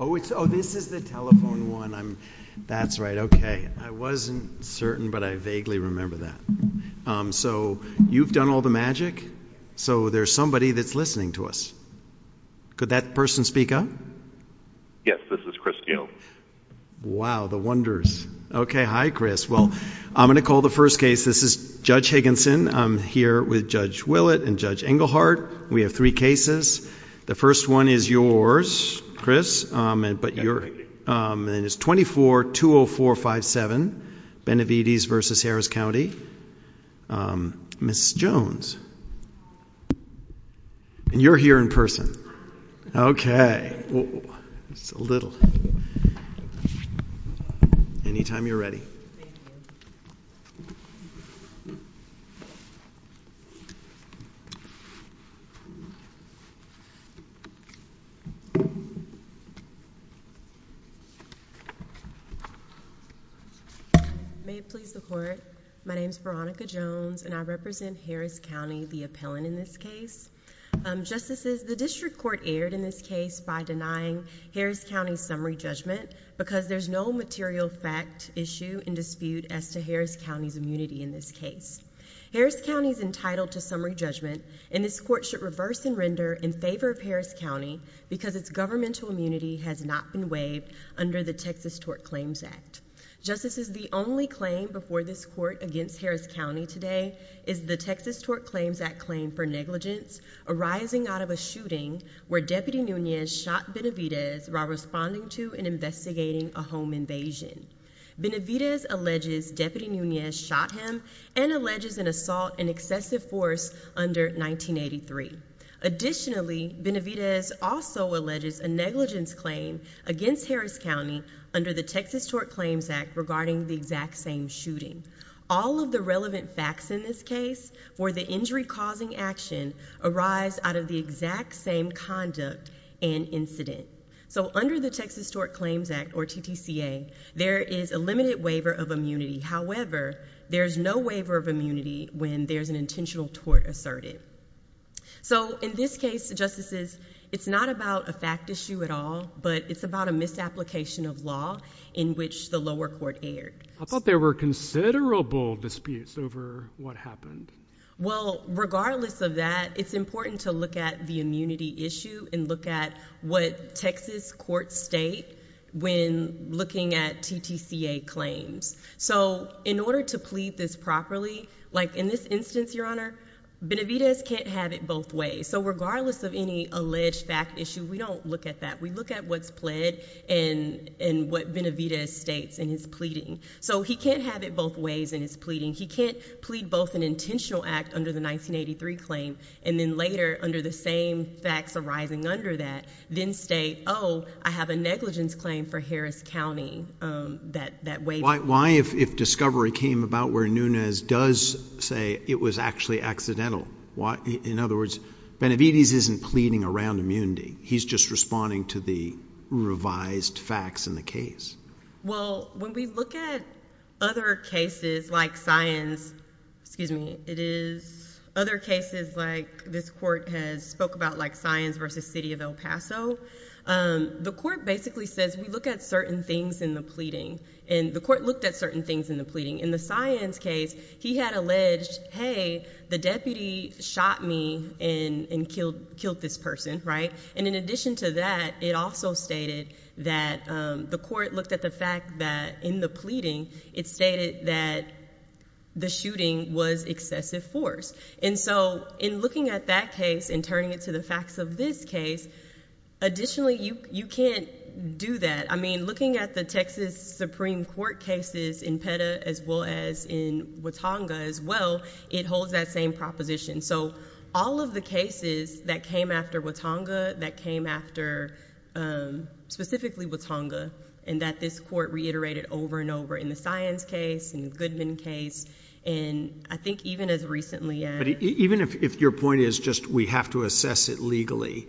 Oh it's oh this is the telephone one I'm that's right okay I wasn't certain but I vaguely remember that. So you've done all the magic so there's somebody that's listening to us. Could that person speak up? Yes this is Chris Gale. Wow the wonders. Okay hi Chris well I'm gonna call the first case this is Judge Higginson. I'm here with Judge Willett and Judge Engelhardt. We have three cases. The first one is yours Chris and but you're and it's 24 20457 Benavides v. Harris County. Ms. Jones and you're here in person. Okay it's a little anytime you're ready. May it please the court my name is Veronica Jones and I represent Harris County the appellant in this case. Justices the district court erred in this case by denying Harris County summary judgment because there's no material fact issue and dispute as to Harris County's immunity in this case. Harris County is entitled to summary judgment and this court should reverse and render in favor of Harris County because its governmental immunity has not been waived under the Texas Tort Claims Act. Justice is the only claim before this court against Harris County today is the Texas Tort Claims Act claim for negligence arising out of a shooting where Deputy Nunez shot Benavides while responding to and investigating a home invasion. Benavides alleges Deputy Nunez shot him and alleges an assault and excessive force under 1983. Additionally Benavides also alleges a negligence claim against Harris County under the Texas Tort Claims Act regarding the exact same shooting. All of the relevant facts in this case for the injury causing action arise out of the exact same conduct and incident. So under the Texas Tort Claims Act or TTCA there is a limited waiver of immunity however there's no waiver of immunity when there's an intentional tort asserted. So in this case justices it's not about a fact issue at all but it's about a misapplication of law in which the lower court erred. I thought there were considerable disputes over what happened. Well regardless of that it's important to look at the immunity issue and look at what Texas courts state when looking at TTCA claims. So in order to plead this properly like in this instance your honor Benavides can't have it both ways. So regardless of any alleged fact issue we don't look at that. We look at what's pled and and what Benavides states in his pleading. So he can't have it both ways in his pleading. He can't plead both an intentional act under the 1983 claim and then later under the same facts arising under that then state oh I have a negligence claim for Harris County that that way. Why if if discovery came about where Nunez does say it was actually accidental why in other words Benavides isn't pleading around immunity he's just responding to the revised facts in the case. Well when we look at other cases like science excuse me it is other cases like this court has spoke about like science versus City of El Paso the court basically says we look at certain things in the pleading and the court looked at certain things in the pleading. In the science case he had alleged hey the deputy shot me and killed killed this person right and in addition to that it also stated that the court looked at the fact that in the pleading it stated that the shooting was excessive force and so in looking at that case and turning it to the facts of this case additionally you you can't do that I mean looking at the Texas Supreme Court cases in PETA as well as in Watonga as well it holds that same proposition so all of the cases that came after Watonga that came after specifically Watonga and that this court reiterated over and over in the science case in the Goodman case and I think even as recently as. Even if your point is just we have to assess it legally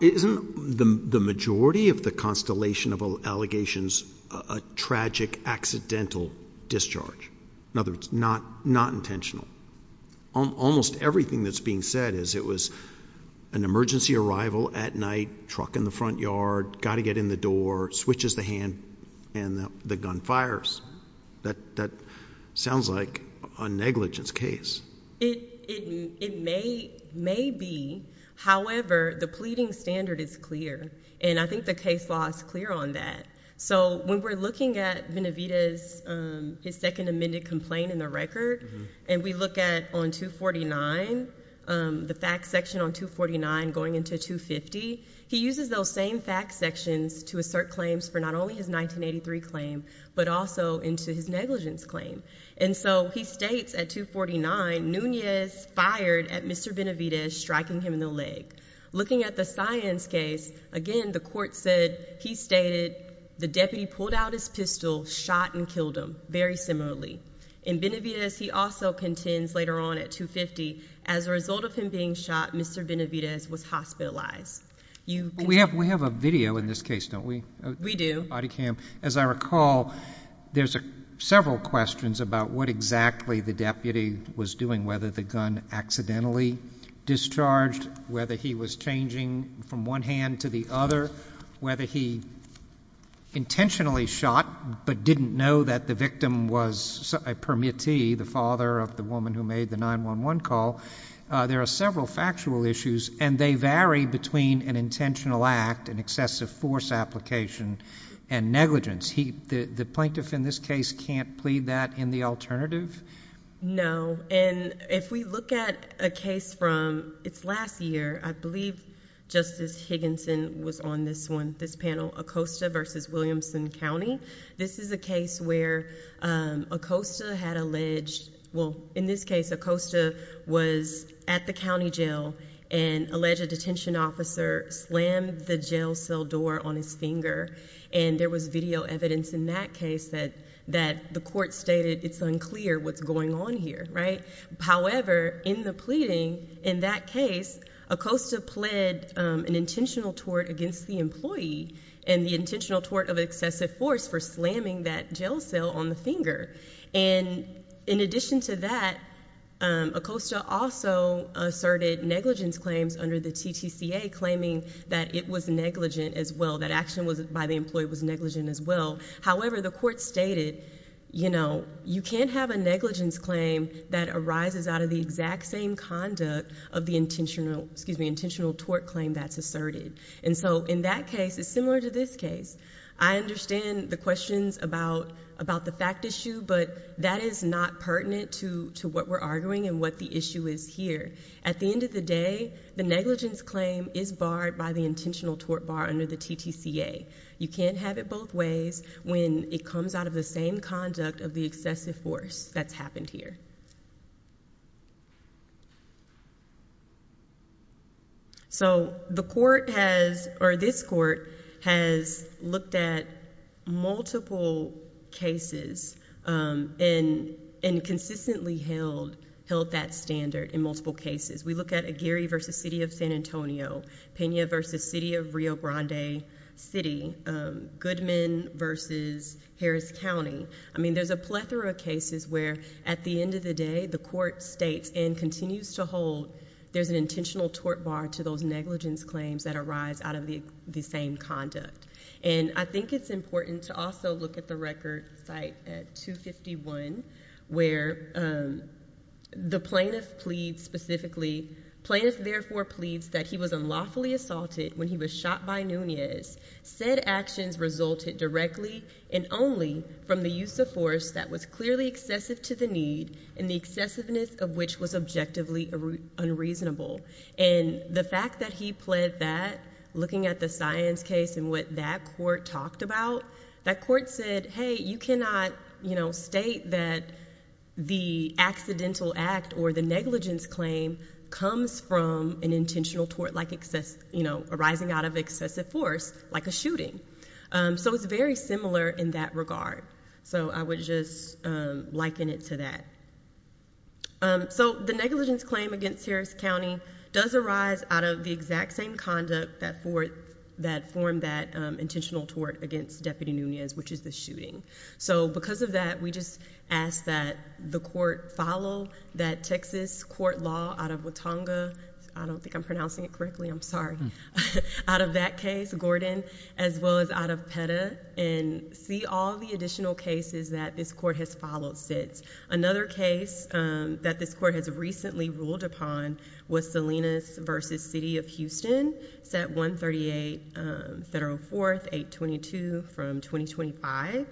isn't the majority of the constellation of allegations a tragic accidental discharge in other words not not intentional. Almost everything that's being said is it was an emergency arrival at night truck in the front yard got to get in the door switches the hand and the gun fires that that sounds like a negligence case. It may be however the pleading standard is clear and I think the case law is clear on that so when we're looking at Venevita's his second amended complaint in the record and we look at on 249 the fact section on 249 going into 250 he uses those same fact sections to assert claims for not only his 1983 claim but also into his negligence claim and so he states at 249 Nunez fired at Mr. Benavidez striking him in the leg. Looking at the science case again the court said he stated the deputy pulled out his pistol shot and killed him very similarly. In Benavidez he also contends later on at 250 as a result of him being shot Mr. Benavidez was hospitalized. You we have we have a video in this case don't we? We do. Body cam. As I recall there's a several questions about what exactly the deputy was doing whether the gun accidentally discharged whether he was changing from one hand to the other whether he intentionally shot but didn't know that the victim was a permittee the father of the woman who made the 9-1-1 call. There are several factual issues and they vary between an intentional act and excessive force application and negligence. The plaintiff in this case can't plead that in the alternative? No and if we look at a case from its last year I believe Justice Higginson was on this one this panel Acosta versus Williamson County. This is a case where Acosta had alleged well in this case Acosta was at the county jail and alleged a detention officer slammed the jail cell door on his finger and there was video evidence in that case that that the court stated it's unclear what's going on here right? However in the pleading in that case Acosta pled an intentional tort against the employee and the intentional tort of excessive force for slamming that jail cell on the finger and in addition to that Acosta also asserted negligence claims under the TTCA claiming that it was negligent as well that action was by the employee was negligent as well however the court stated you know you can't have a negligence claim that arises out of the exact same conduct of the intentional excuse me intentional tort claim that's asserted and so in that case it's similar to this case I understand the questions about about the fact issue but that is not pertinent to to what we're arguing and what the issue is here at the end of the day the negligence claim is barred by the intentional tort bar under the TTCA you can't have it both ways when it comes out of the same conduct of the excessive force that's happened here so the court has or this court has looked at multiple cases in and consistently held held that standard in multiple cases we look at a Gary versus City of San Antonio Pena versus City of Rio Grande City Goodman versus Harris County I mean there's a plethora of cases where at the end of the day the court states and continues to hold there's an intentional tort bar to those negligence claims that arise out of the the same conduct and I think it's important to also look at the record site at 251 where the plaintiff pleads specifically plaintiff therefore pleads that he was unlawfully assaulted when he was shot by Nunez said actions resulted directly and only from the use of force that was clearly excessive to the need and the excessiveness of which was objectively unreasonable and the fact that he pled that looking at the science case and what that court talked about that court said hey you cannot you know state that the accidental act or the negligence claim comes from an intentional tort like excess you know arising out of excessive force like a shooting so it's very similar in that regard so I would just liken it to that so the negligence claim against Harris County does arise out of the exact same conduct that for that form that intentional tort against deputy Nunez which is the shooting so because of that we just ask that the court follow that Texas court law out of Watonga I don't think I'm pronouncing it correctly I'm sorry out of that case Gordon as well as out of PETA and see all the additional cases that this court has followed since another case that this court has recently ruled upon was Salinas versus City of Houston set 138 federal 4th 822 from 2025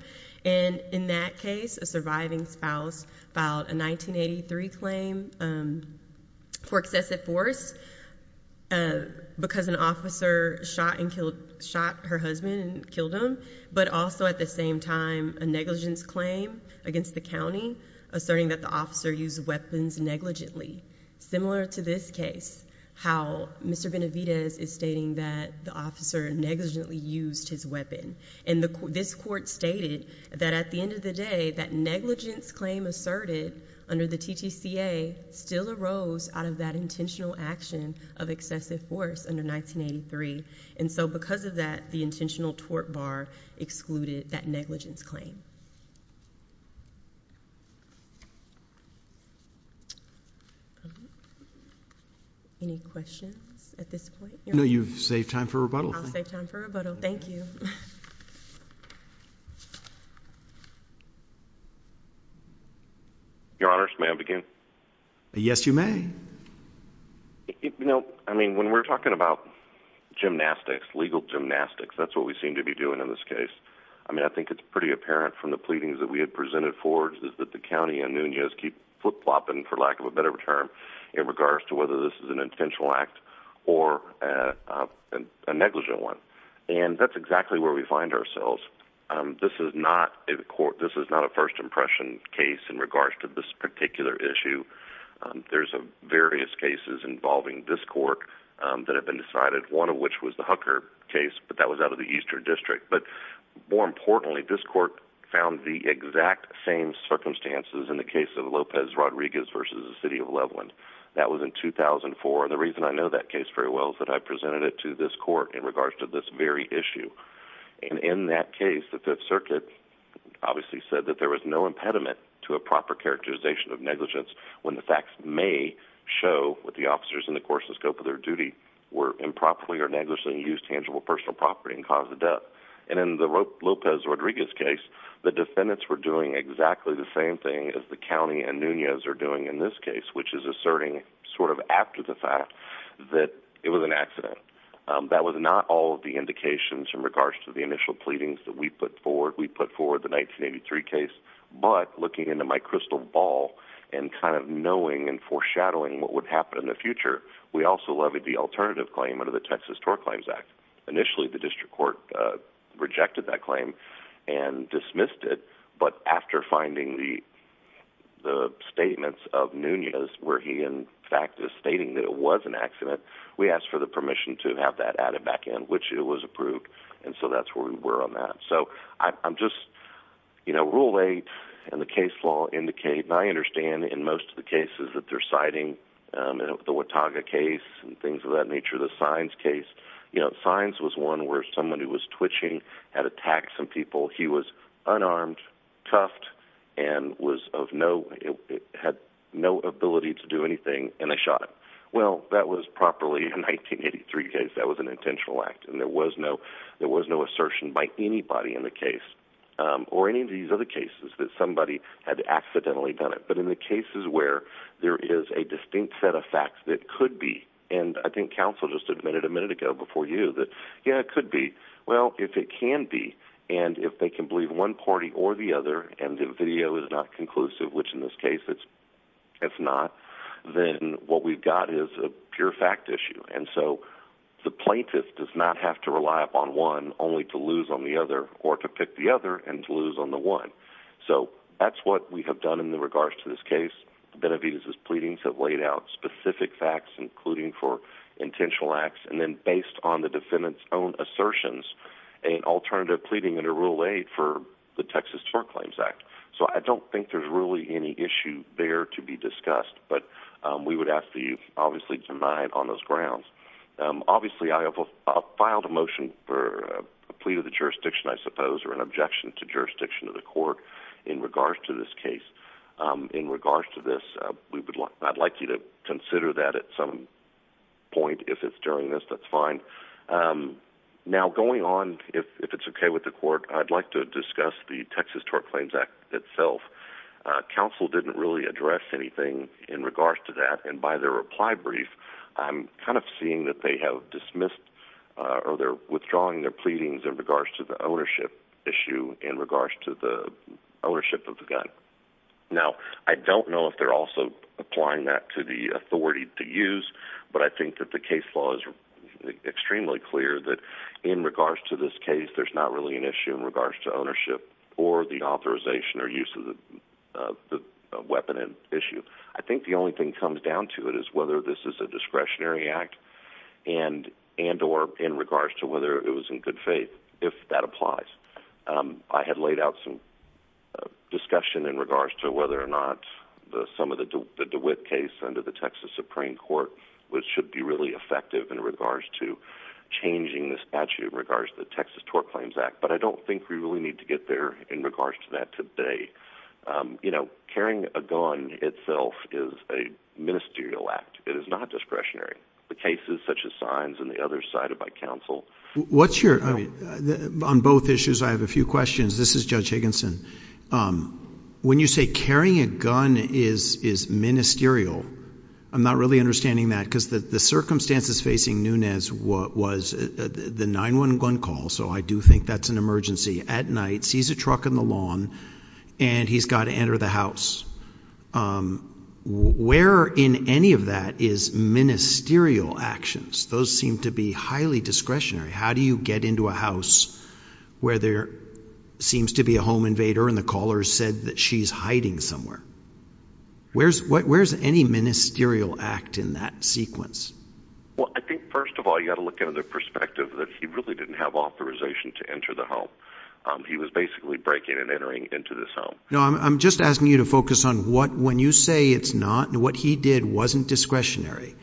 and in that case a surviving spouse filed a 1983 claim for excessive force because an officer shot and killed shot her husband killed him but also at the same time a negligence claim against the county asserting that the officer used weapons negligently similar to this case how mr. Benavidez is stating that the officer negligently used his weapon and the court this court stated that at the end of the day that negligence claim asserted under the TTC a still arose out of that intentional action of excessive force under 1983 and so because of that the intentional tort bar excluded that negligence claim any questions at this your honors may I begin yes you may you know I mean when we're talking about gymnastics legal gymnastics that's what we seem to be doing in this case I mean I think it's pretty apparent from the pleadings that we had presented forward is that the county and Nunez keep flip-flopping for lack of a better term in regards to whether this is an intentional act or a negligent one and that's exactly where we find ourselves this is not a court this is not a first impression case in regards to this particular issue there's a various cases involving this court that have been decided one of which was the Hucker case but that was out of the Eastern District but more importantly this court found the exact same circumstances in the case of Lopez Rodriguez versus the city of Portland that was in 2004 the reason I know that case very well that I presented it to this court in regards to this very issue and in that case the Fifth Circuit obviously said that there was no impediment to a proper characterization of negligence when the facts may show what the officers in the course of scope of their duty were improperly or negligently used tangible personal property and caused the death and in the Lopez Rodriguez case the defendants were doing exactly the same thing as the county and Nunez are doing in this case which is asserting sort of after the fact that it was an accident that was not all of the indications in regards to the initial pleadings that we put forward we put forward the 1983 case but looking into my crystal ball and kind of knowing and foreshadowing what would happen in the future we also levied the alternative claim under the Texas TOR Claims Act initially the district court rejected that claim and dismissed it but after finding the the statements of Nunez where he in fact is stating that it was an accident we asked for the permission to have that added back in which it was approved and so that's where we were on that so I'm just you know rule 8 and the case law indicate I understand in most of the cases that they're citing the Watauga case and things of that nature the signs case you know signs was one where someone who was twitching had attacked some people he was unarmed cuffed and was of no it had no ability to do anything and I shot well that was properly in 1983 case that was an intentional act and there was no there was no assertion by anybody in the case or any of these other cases that somebody had accidentally done it but in the cases where there is a distinct set of facts that could be and I think counsel just admitted a minute ago before you that yeah it could be well if it can be and if they can believe one party or the other and the video is not which in this case it's it's not then what we've got is a pure fact issue and so the plaintiff does not have to rely upon one only to lose on the other or to pick the other and to lose on the one so that's what we have done in the regards to this case Benavides's pleadings have laid out specific facts including for intentional acts and then based on the defendants own assertions an alternative pleading under rule eight for the Texas for claims act so I don't think there's really any issue there to be discussed but we would have to you obviously denied on those grounds obviously I have a filed a motion for a plea to the jurisdiction I suppose or an objection to jurisdiction of the court in regards to this case in regards to this we would like I'd like you to consider that at some point if it's during this that's fine now going on if it's okay with the court I'd like to discuss the Texas tort claims act itself council didn't really address anything in regards to that and by their reply brief I'm kind of seeing that they have dismissed or they're withdrawing their pleadings in regards to the ownership issue in regards to the ownership of the gun now I don't know if they're also applying that to the authority to use but I think that the case was extremely clear that in regards to this case there's not really an issue in regards to ownership or the authorization or use of the weapon and issue I think the only thing comes down to it is whether this is a discretionary act and and or in regards to whether it was in good faith if that applies I had laid out some discussion in regards to whether or not some of the case under the Texas Supreme Court which should be really effective in regards to changing the statute in regards to the Texas Tort Claims Act but I don't think we really need to get there in regards to that today you know carrying a gun itself is a ministerial act it is not discretionary the cases such as signs and the other side of my counsel what's your on both issues I have a few questions this is judge Higginson when you say carrying a gun is is ministerial I'm not really understanding that because the the circumstances facing Nunez what was the 9-1-1 call so I do think that's an emergency at night sees a truck in the lawn and he's got to enter the house where in any of that is ministerial actions those seem to be highly discretionary how do you get into a where there seems to be a home invader in the callers said that she's hiding somewhere where's what where's any ministerial act in that sequence well I think first of all you got to look into the perspective that he really didn't have authorization to enter the home he was basically breaking and entering into this home no I'm just asking you to focus on what when you say it's not and what he did wasn't discretionary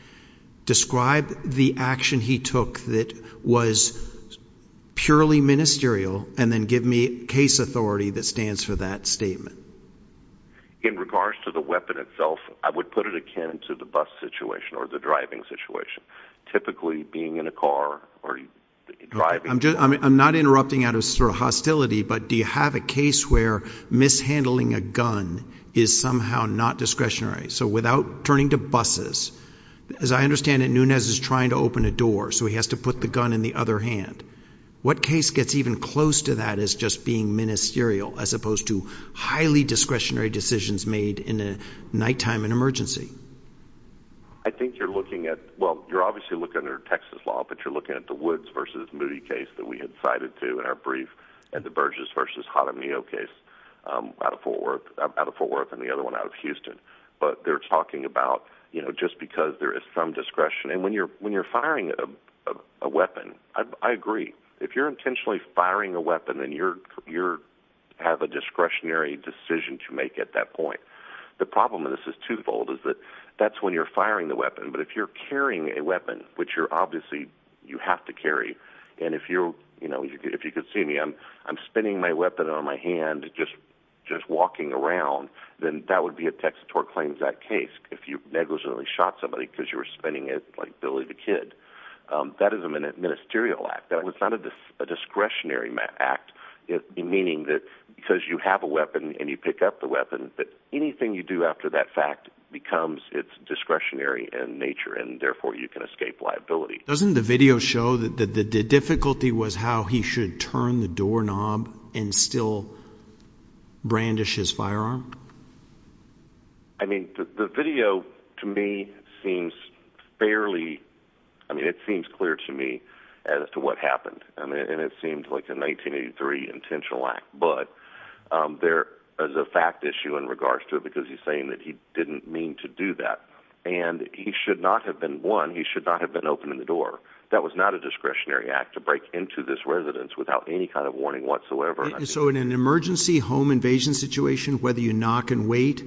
describe the action he took that was purely ministerial and then give me case authority that stands for that statement in regards to the weapon itself I would put it akin to the bus situation or the driving situation typically being in a car or driving I'm just I mean I'm not interrupting out of sort of hostility but do you have a case where mishandling a gun is somehow not discretionary so without turning to as I understand it Nunez is trying to open a door so he has to put the gun in the other hand what case gets even close to that is just being ministerial as opposed to highly discretionary decisions made in a nighttime an emergency I think you're looking at well you're obviously look under Texas law but you're looking at the woods versus movie case that we had cited to in our brief and the Burgess versus hot on the okay out of Fort Worth out of Fort Worth and the other one out of Houston but they're talking about you know just because there is some discretion and when you're when you're firing a weapon I agree if you're intentionally firing a weapon and you're you're have a discretionary decision to make at that point the problem of this is twofold is that that's when you're firing the weapon but if you're carrying a weapon which you're obviously you have to carry and if you're you know if you could see me I'm I'm spinning my weapon on my hand just just walking around then that would be a text or claims that case if you negligently shot somebody because you were spinning it like Billy the kid that is a minute ministerial act that was not a discretionary act it meaning that because you have a weapon and you pick up the weapon that anything you do after that fact becomes its discretionary and nature and therefore you can escape liability doesn't the show that the difficulty was how he should turn the doorknob and still brandish his firearm I mean the video to me seems fairly I mean it seems clear to me as to what happened and it seemed like a 1983 intentional act but there is a fact issue in regards to because he's saying that he didn't mean to do that and he should not have been one he should not have been opening the door that was not a discretionary act to break into this residence without any kind of warning whatsoever so in an emergency home invasion situation whether you knock and wait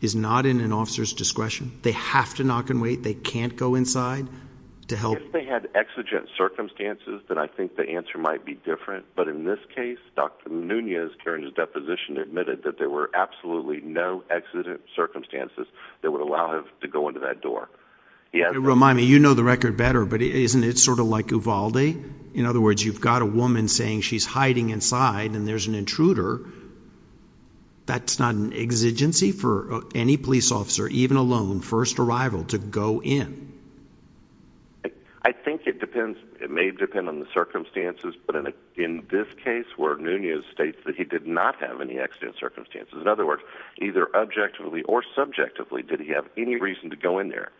is not in an officer's discretion they have to knock and wait they can't go inside to help they had exigent circumstances that I think the answer might be different but in this case dr. Nunez Karen's deposition admitted that there were absolutely no exigent circumstances that would allow him to go into that door yeah remind me you know the record better but isn't it sort of like Uvalde in other words you've got a woman saying she's hiding inside and there's an intruder that's not an exigency for any police officer even alone first arrival to go in I think it depends it may depend on the circumstances but in this case where Nunez states that he did not have any exigent circumstances in other words either objectively or subjectively did he have any reason to go in there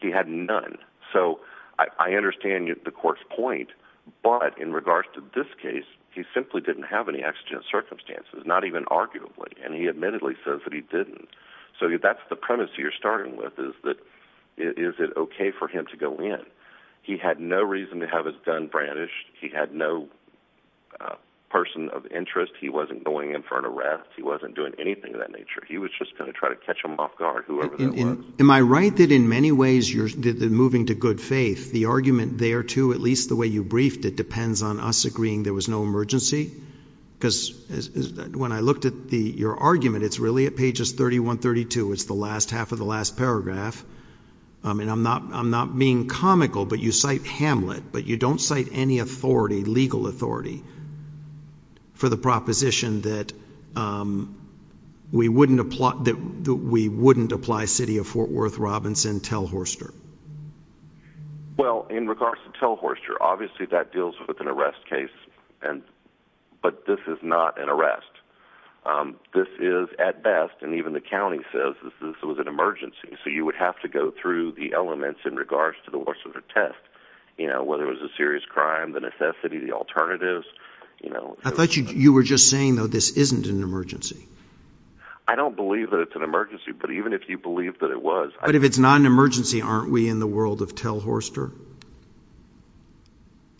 he had none so I understand you the court's point but in regards to this case he simply didn't have any exigent circumstances not even arguably and he admittedly says that he didn't so that's the premise you're starting with is that is it okay for him to go in he had no reason to have his gun brandished he had no person of interest he wasn't going in for an arrest he wasn't doing anything of that nature he was just am I right that in many ways you're moving to good faith the argument there too at least the way you briefed it depends on us agreeing there was no emergency because when I looked at the your argument it's really at pages 31 32 it's the last half of the last paragraph I mean I'm not I'm not being comical but you cite Hamlet but you don't cite any authority legal authority for the opposition that we wouldn't apply that we wouldn't apply city of Fort Worth Robinson tell Horster well in regards to tell Horster obviously that deals with an arrest case and but this is not an arrest this is at best and even the county says this was an emergency so you would have to go through the elements in regards to the worst of the test you know whether it was a serious crime the alternatives you know I thought you were just saying though this isn't an emergency I don't believe that it's an emergency but even if you believe that it was but if it's not an emergency aren't we in the world of tell Horster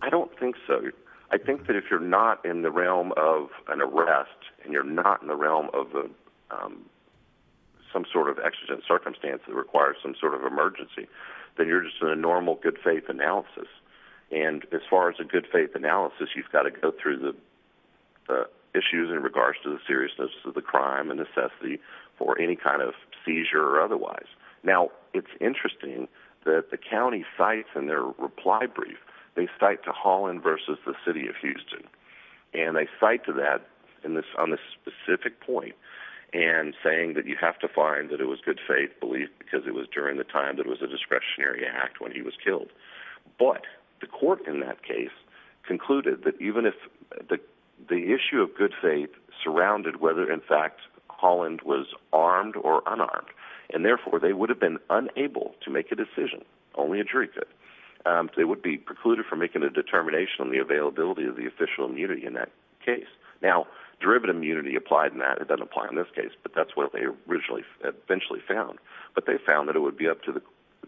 I don't think so I think that if you're not in the realm of an arrest and you're not in the realm of some sort of exigent circumstance that requires some sort of emergency that you're just a normal good faith analysis and as far as a good faith analysis you've got to go through the issues in regards to the seriousness of the crime and necessity for any kind of seizure or otherwise now it's interesting that the county sites and their reply brief they cite to Holland versus the city of Houston and they cite to that in this on this specific point and saying that you have to find that it was good faith belief because it was during the time that was a discretionary act when he was killed but the court in that case concluded that even if the the issue of good faith surrounded whether in fact Holland was armed or unarmed and therefore they would have been unable to make a decision only a jury could they would be precluded from making a determination on the availability of the official immunity in that case now derivative immunity applied in that it doesn't apply in this case but that's what they originally eventually found but they found that it would be up to the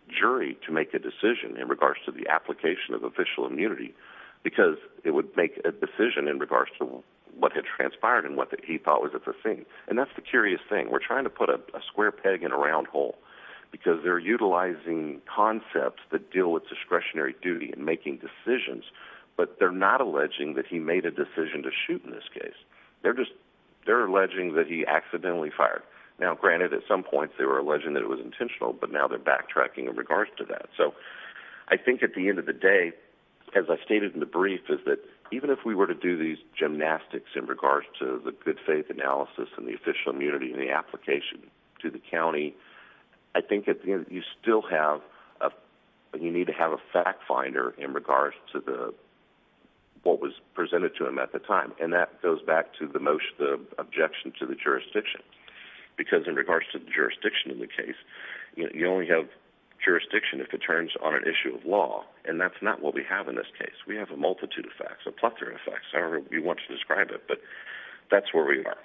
jury to make a decision in regards to the application of official immunity because it would make a decision in regards to what had transpired and what that he thought was at the thing and that's the curious thing we're trying to put up a square peg in a round hole because they're utilizing concepts that deal with discretionary duty and making decisions but they're not alleging that he made a decision to shoot in this case they're just they're alleging that he accidentally fired now granted at some point they were alleging that it was intentional but now they're back tracking in regards to that so I think at the end of the day as I stated in the brief is that even if we were to do these gymnastics in regards to the good faith analysis and the official immunity in the application to the county I think at the end you still have a you need to have a fact finder in regards to the what was presented to him at the time and that goes back to the motion the objection to the jurisdiction because in regards to the jurisdiction in the case you only have jurisdiction if it turns on an issue of law and that's not what we have in this case we have a multitude of facts a plethora of facts however you want to describe it but that's where we are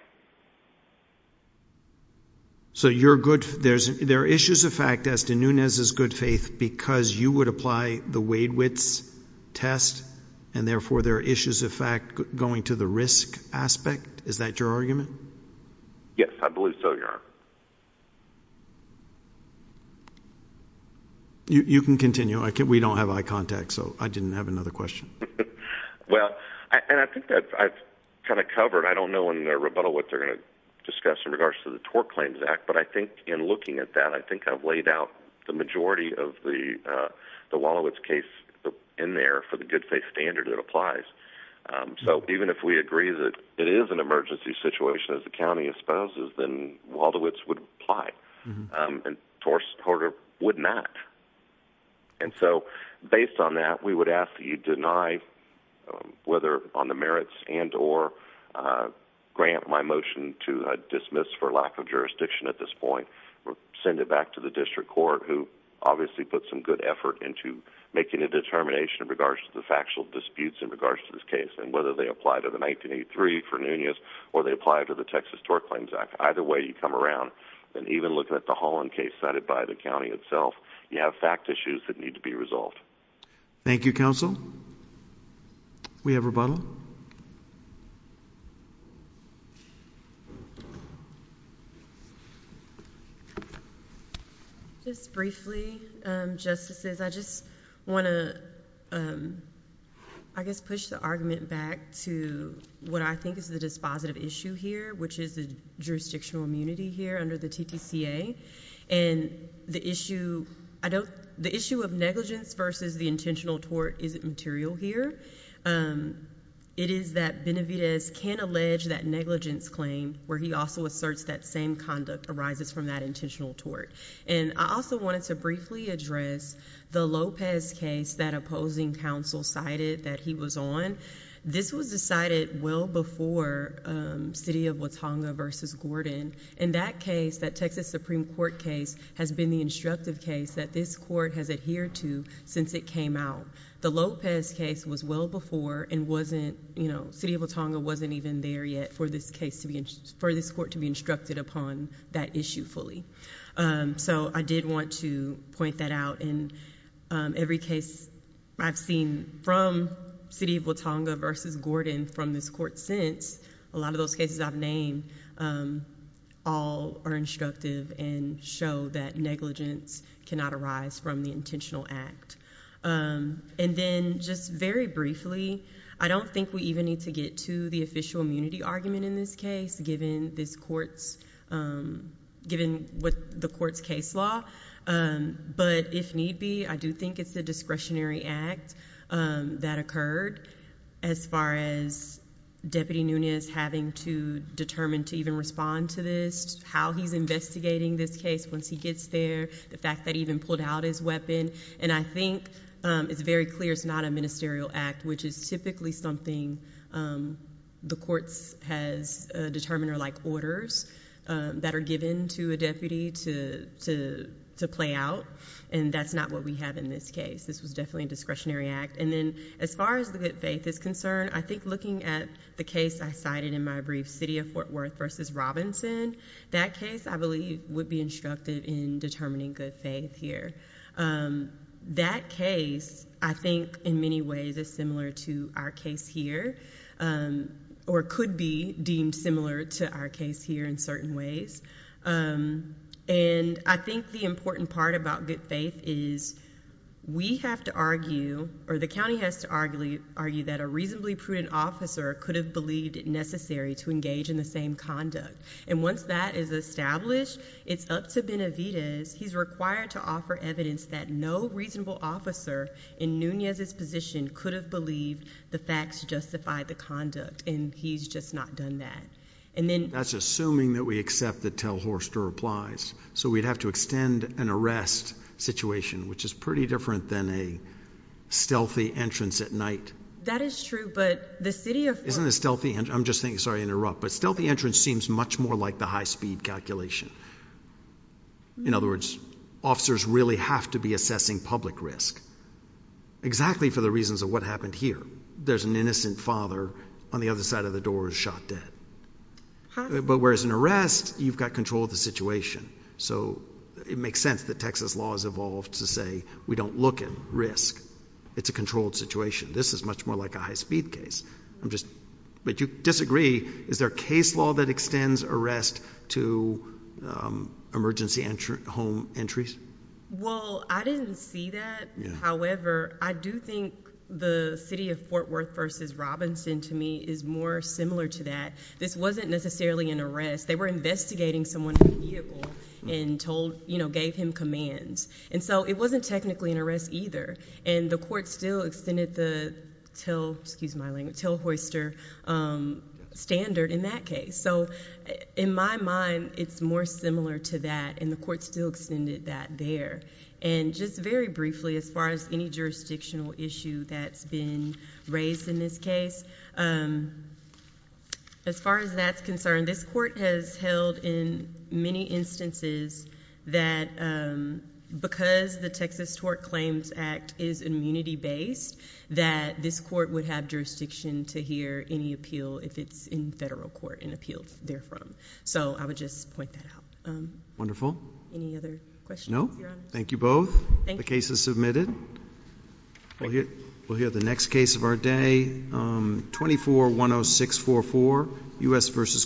so you're good there's there are issues of fact as to Nunez is good faith because you would apply the Wade Witts test and therefore there are issues of fact going to the risk aspect is that your argument yes I believe so you're you can continue I can't we don't have eye contact so I didn't have another question well and I think that I've kind of covered I don't know in their rebuttal what they're going to discuss in regards to the tort claims act but I think in looking at that I think I've laid out the majority of the the wall of its case in there for the good faith standard it applies so even if we agree that it is an emergency situation as the county exposes then Walder Witts would apply and Torres Porter would not and so based on that we would ask that you deny whether on the merits and or grant my motion to dismiss for lack of jurisdiction at this point or send it back to the district court who obviously put some good effort into making a determination in regards to the factual disputes in regards to this case and whether they apply to the 1983 for Nunez or they apply to the Texas Tort Claims Act either way you come around and even looking at the Holland case cited by the county itself you have fact issues that need to be resolved Thank You counsel we have rebuttal just briefly justices I just want to I guess push the argument back to what I think is the dispositive issue here which is the jurisdictional immunity here under the TTCA and the issue I don't the issue of negligence versus the intentional tort isn't material here it is that Benavides can allege that negligence claim where he also asserts that same conduct arises from that intentional tort and I also wanted to briefly address the Lopez case that opposing counsel cited that he was on this was decided well before city of Watauga versus Gordon in that case that Texas Supreme Court case has been the instructive case that this court has adhered to since it came out the Lopez case was well before and wasn't you know city of Watauga wasn't even there yet for this case to be in for this court to be instructed upon that issue fully so I did want to point that out in every case I've seen from city of Watauga versus Gordon from this court since a lot of those cases I've named all are instructive and show that negligence cannot arise from the intentional act and then just very briefly I don't think we even need to get to the official immunity argument in this case given this courts given what the court's case law but if need be I do think it's the discretionary act that occurred as far as deputy Nunez having to determine to even respond to this how he's investigating this case once he gets there the fact that even pulled out his weapon and I think it's very clear it's not a ministerial act which is typically something the courts has determined or like orders that are given to a deputy to to to play out and that's not what we have in this case this was definitely a discretionary act and then as far as the good faith is concerned I think looking at the case I cited in my brief city of Fort Worth versus Robinson that case I believe would be instructive in determining good faith here that case I think in many ways is similar to our case here or could be deemed similar to our case here in certain ways and I think the important part about good faith is we have to argue or the county has to argue argue that a reasonably prudent officer could have believed it necessary to engage in the same conduct and once that is established it's up to Benavidez he's required to offer evidence that no reasonable officer in Nunez's position could have believed the facts justify the conduct and he's just not done that and then that's assuming that we accept the tell Horster applies so we'd have to extend an arrest situation which is pretty different than a stealthy entrance at night that is true but the city of isn't a stealthy and I'm just thinking sorry interrupt but stealthy entrance seems much more like the high-speed calculation in other words officers really have to be assessing public risk exactly for the reasons of what happened here there's an innocent father on the other side of the door is dead but whereas an arrest you've got control of the situation so it makes sense that Texas laws evolved to say we don't look at risk it's a controlled situation this is much more like a high-speed case I'm just but you disagree is there a case law that extends arrest to emergency entry home entries well I didn't see that however I do think the city of Fort Worth versus Robinson to me is more similar to that this wasn't necessarily an arrest they were investigating someone and told you know gave him commands and so it wasn't technically an arrest either and the court still extended the till excuse my language tell Horster standard in that case so in my mind it's more similar to that and the court still extended that there and just very briefly as far as any jurisdictional issue that's been raised in this case as far as that's concerned this court has held in many instances that because the Texas tort claims act is immunity based that this court would have jurisdiction to hear any appeal if it's in federal court and appealed there from so I would just wonderful thank you both cases submitted here the next case of our day 24 106 44 us versus Kirschner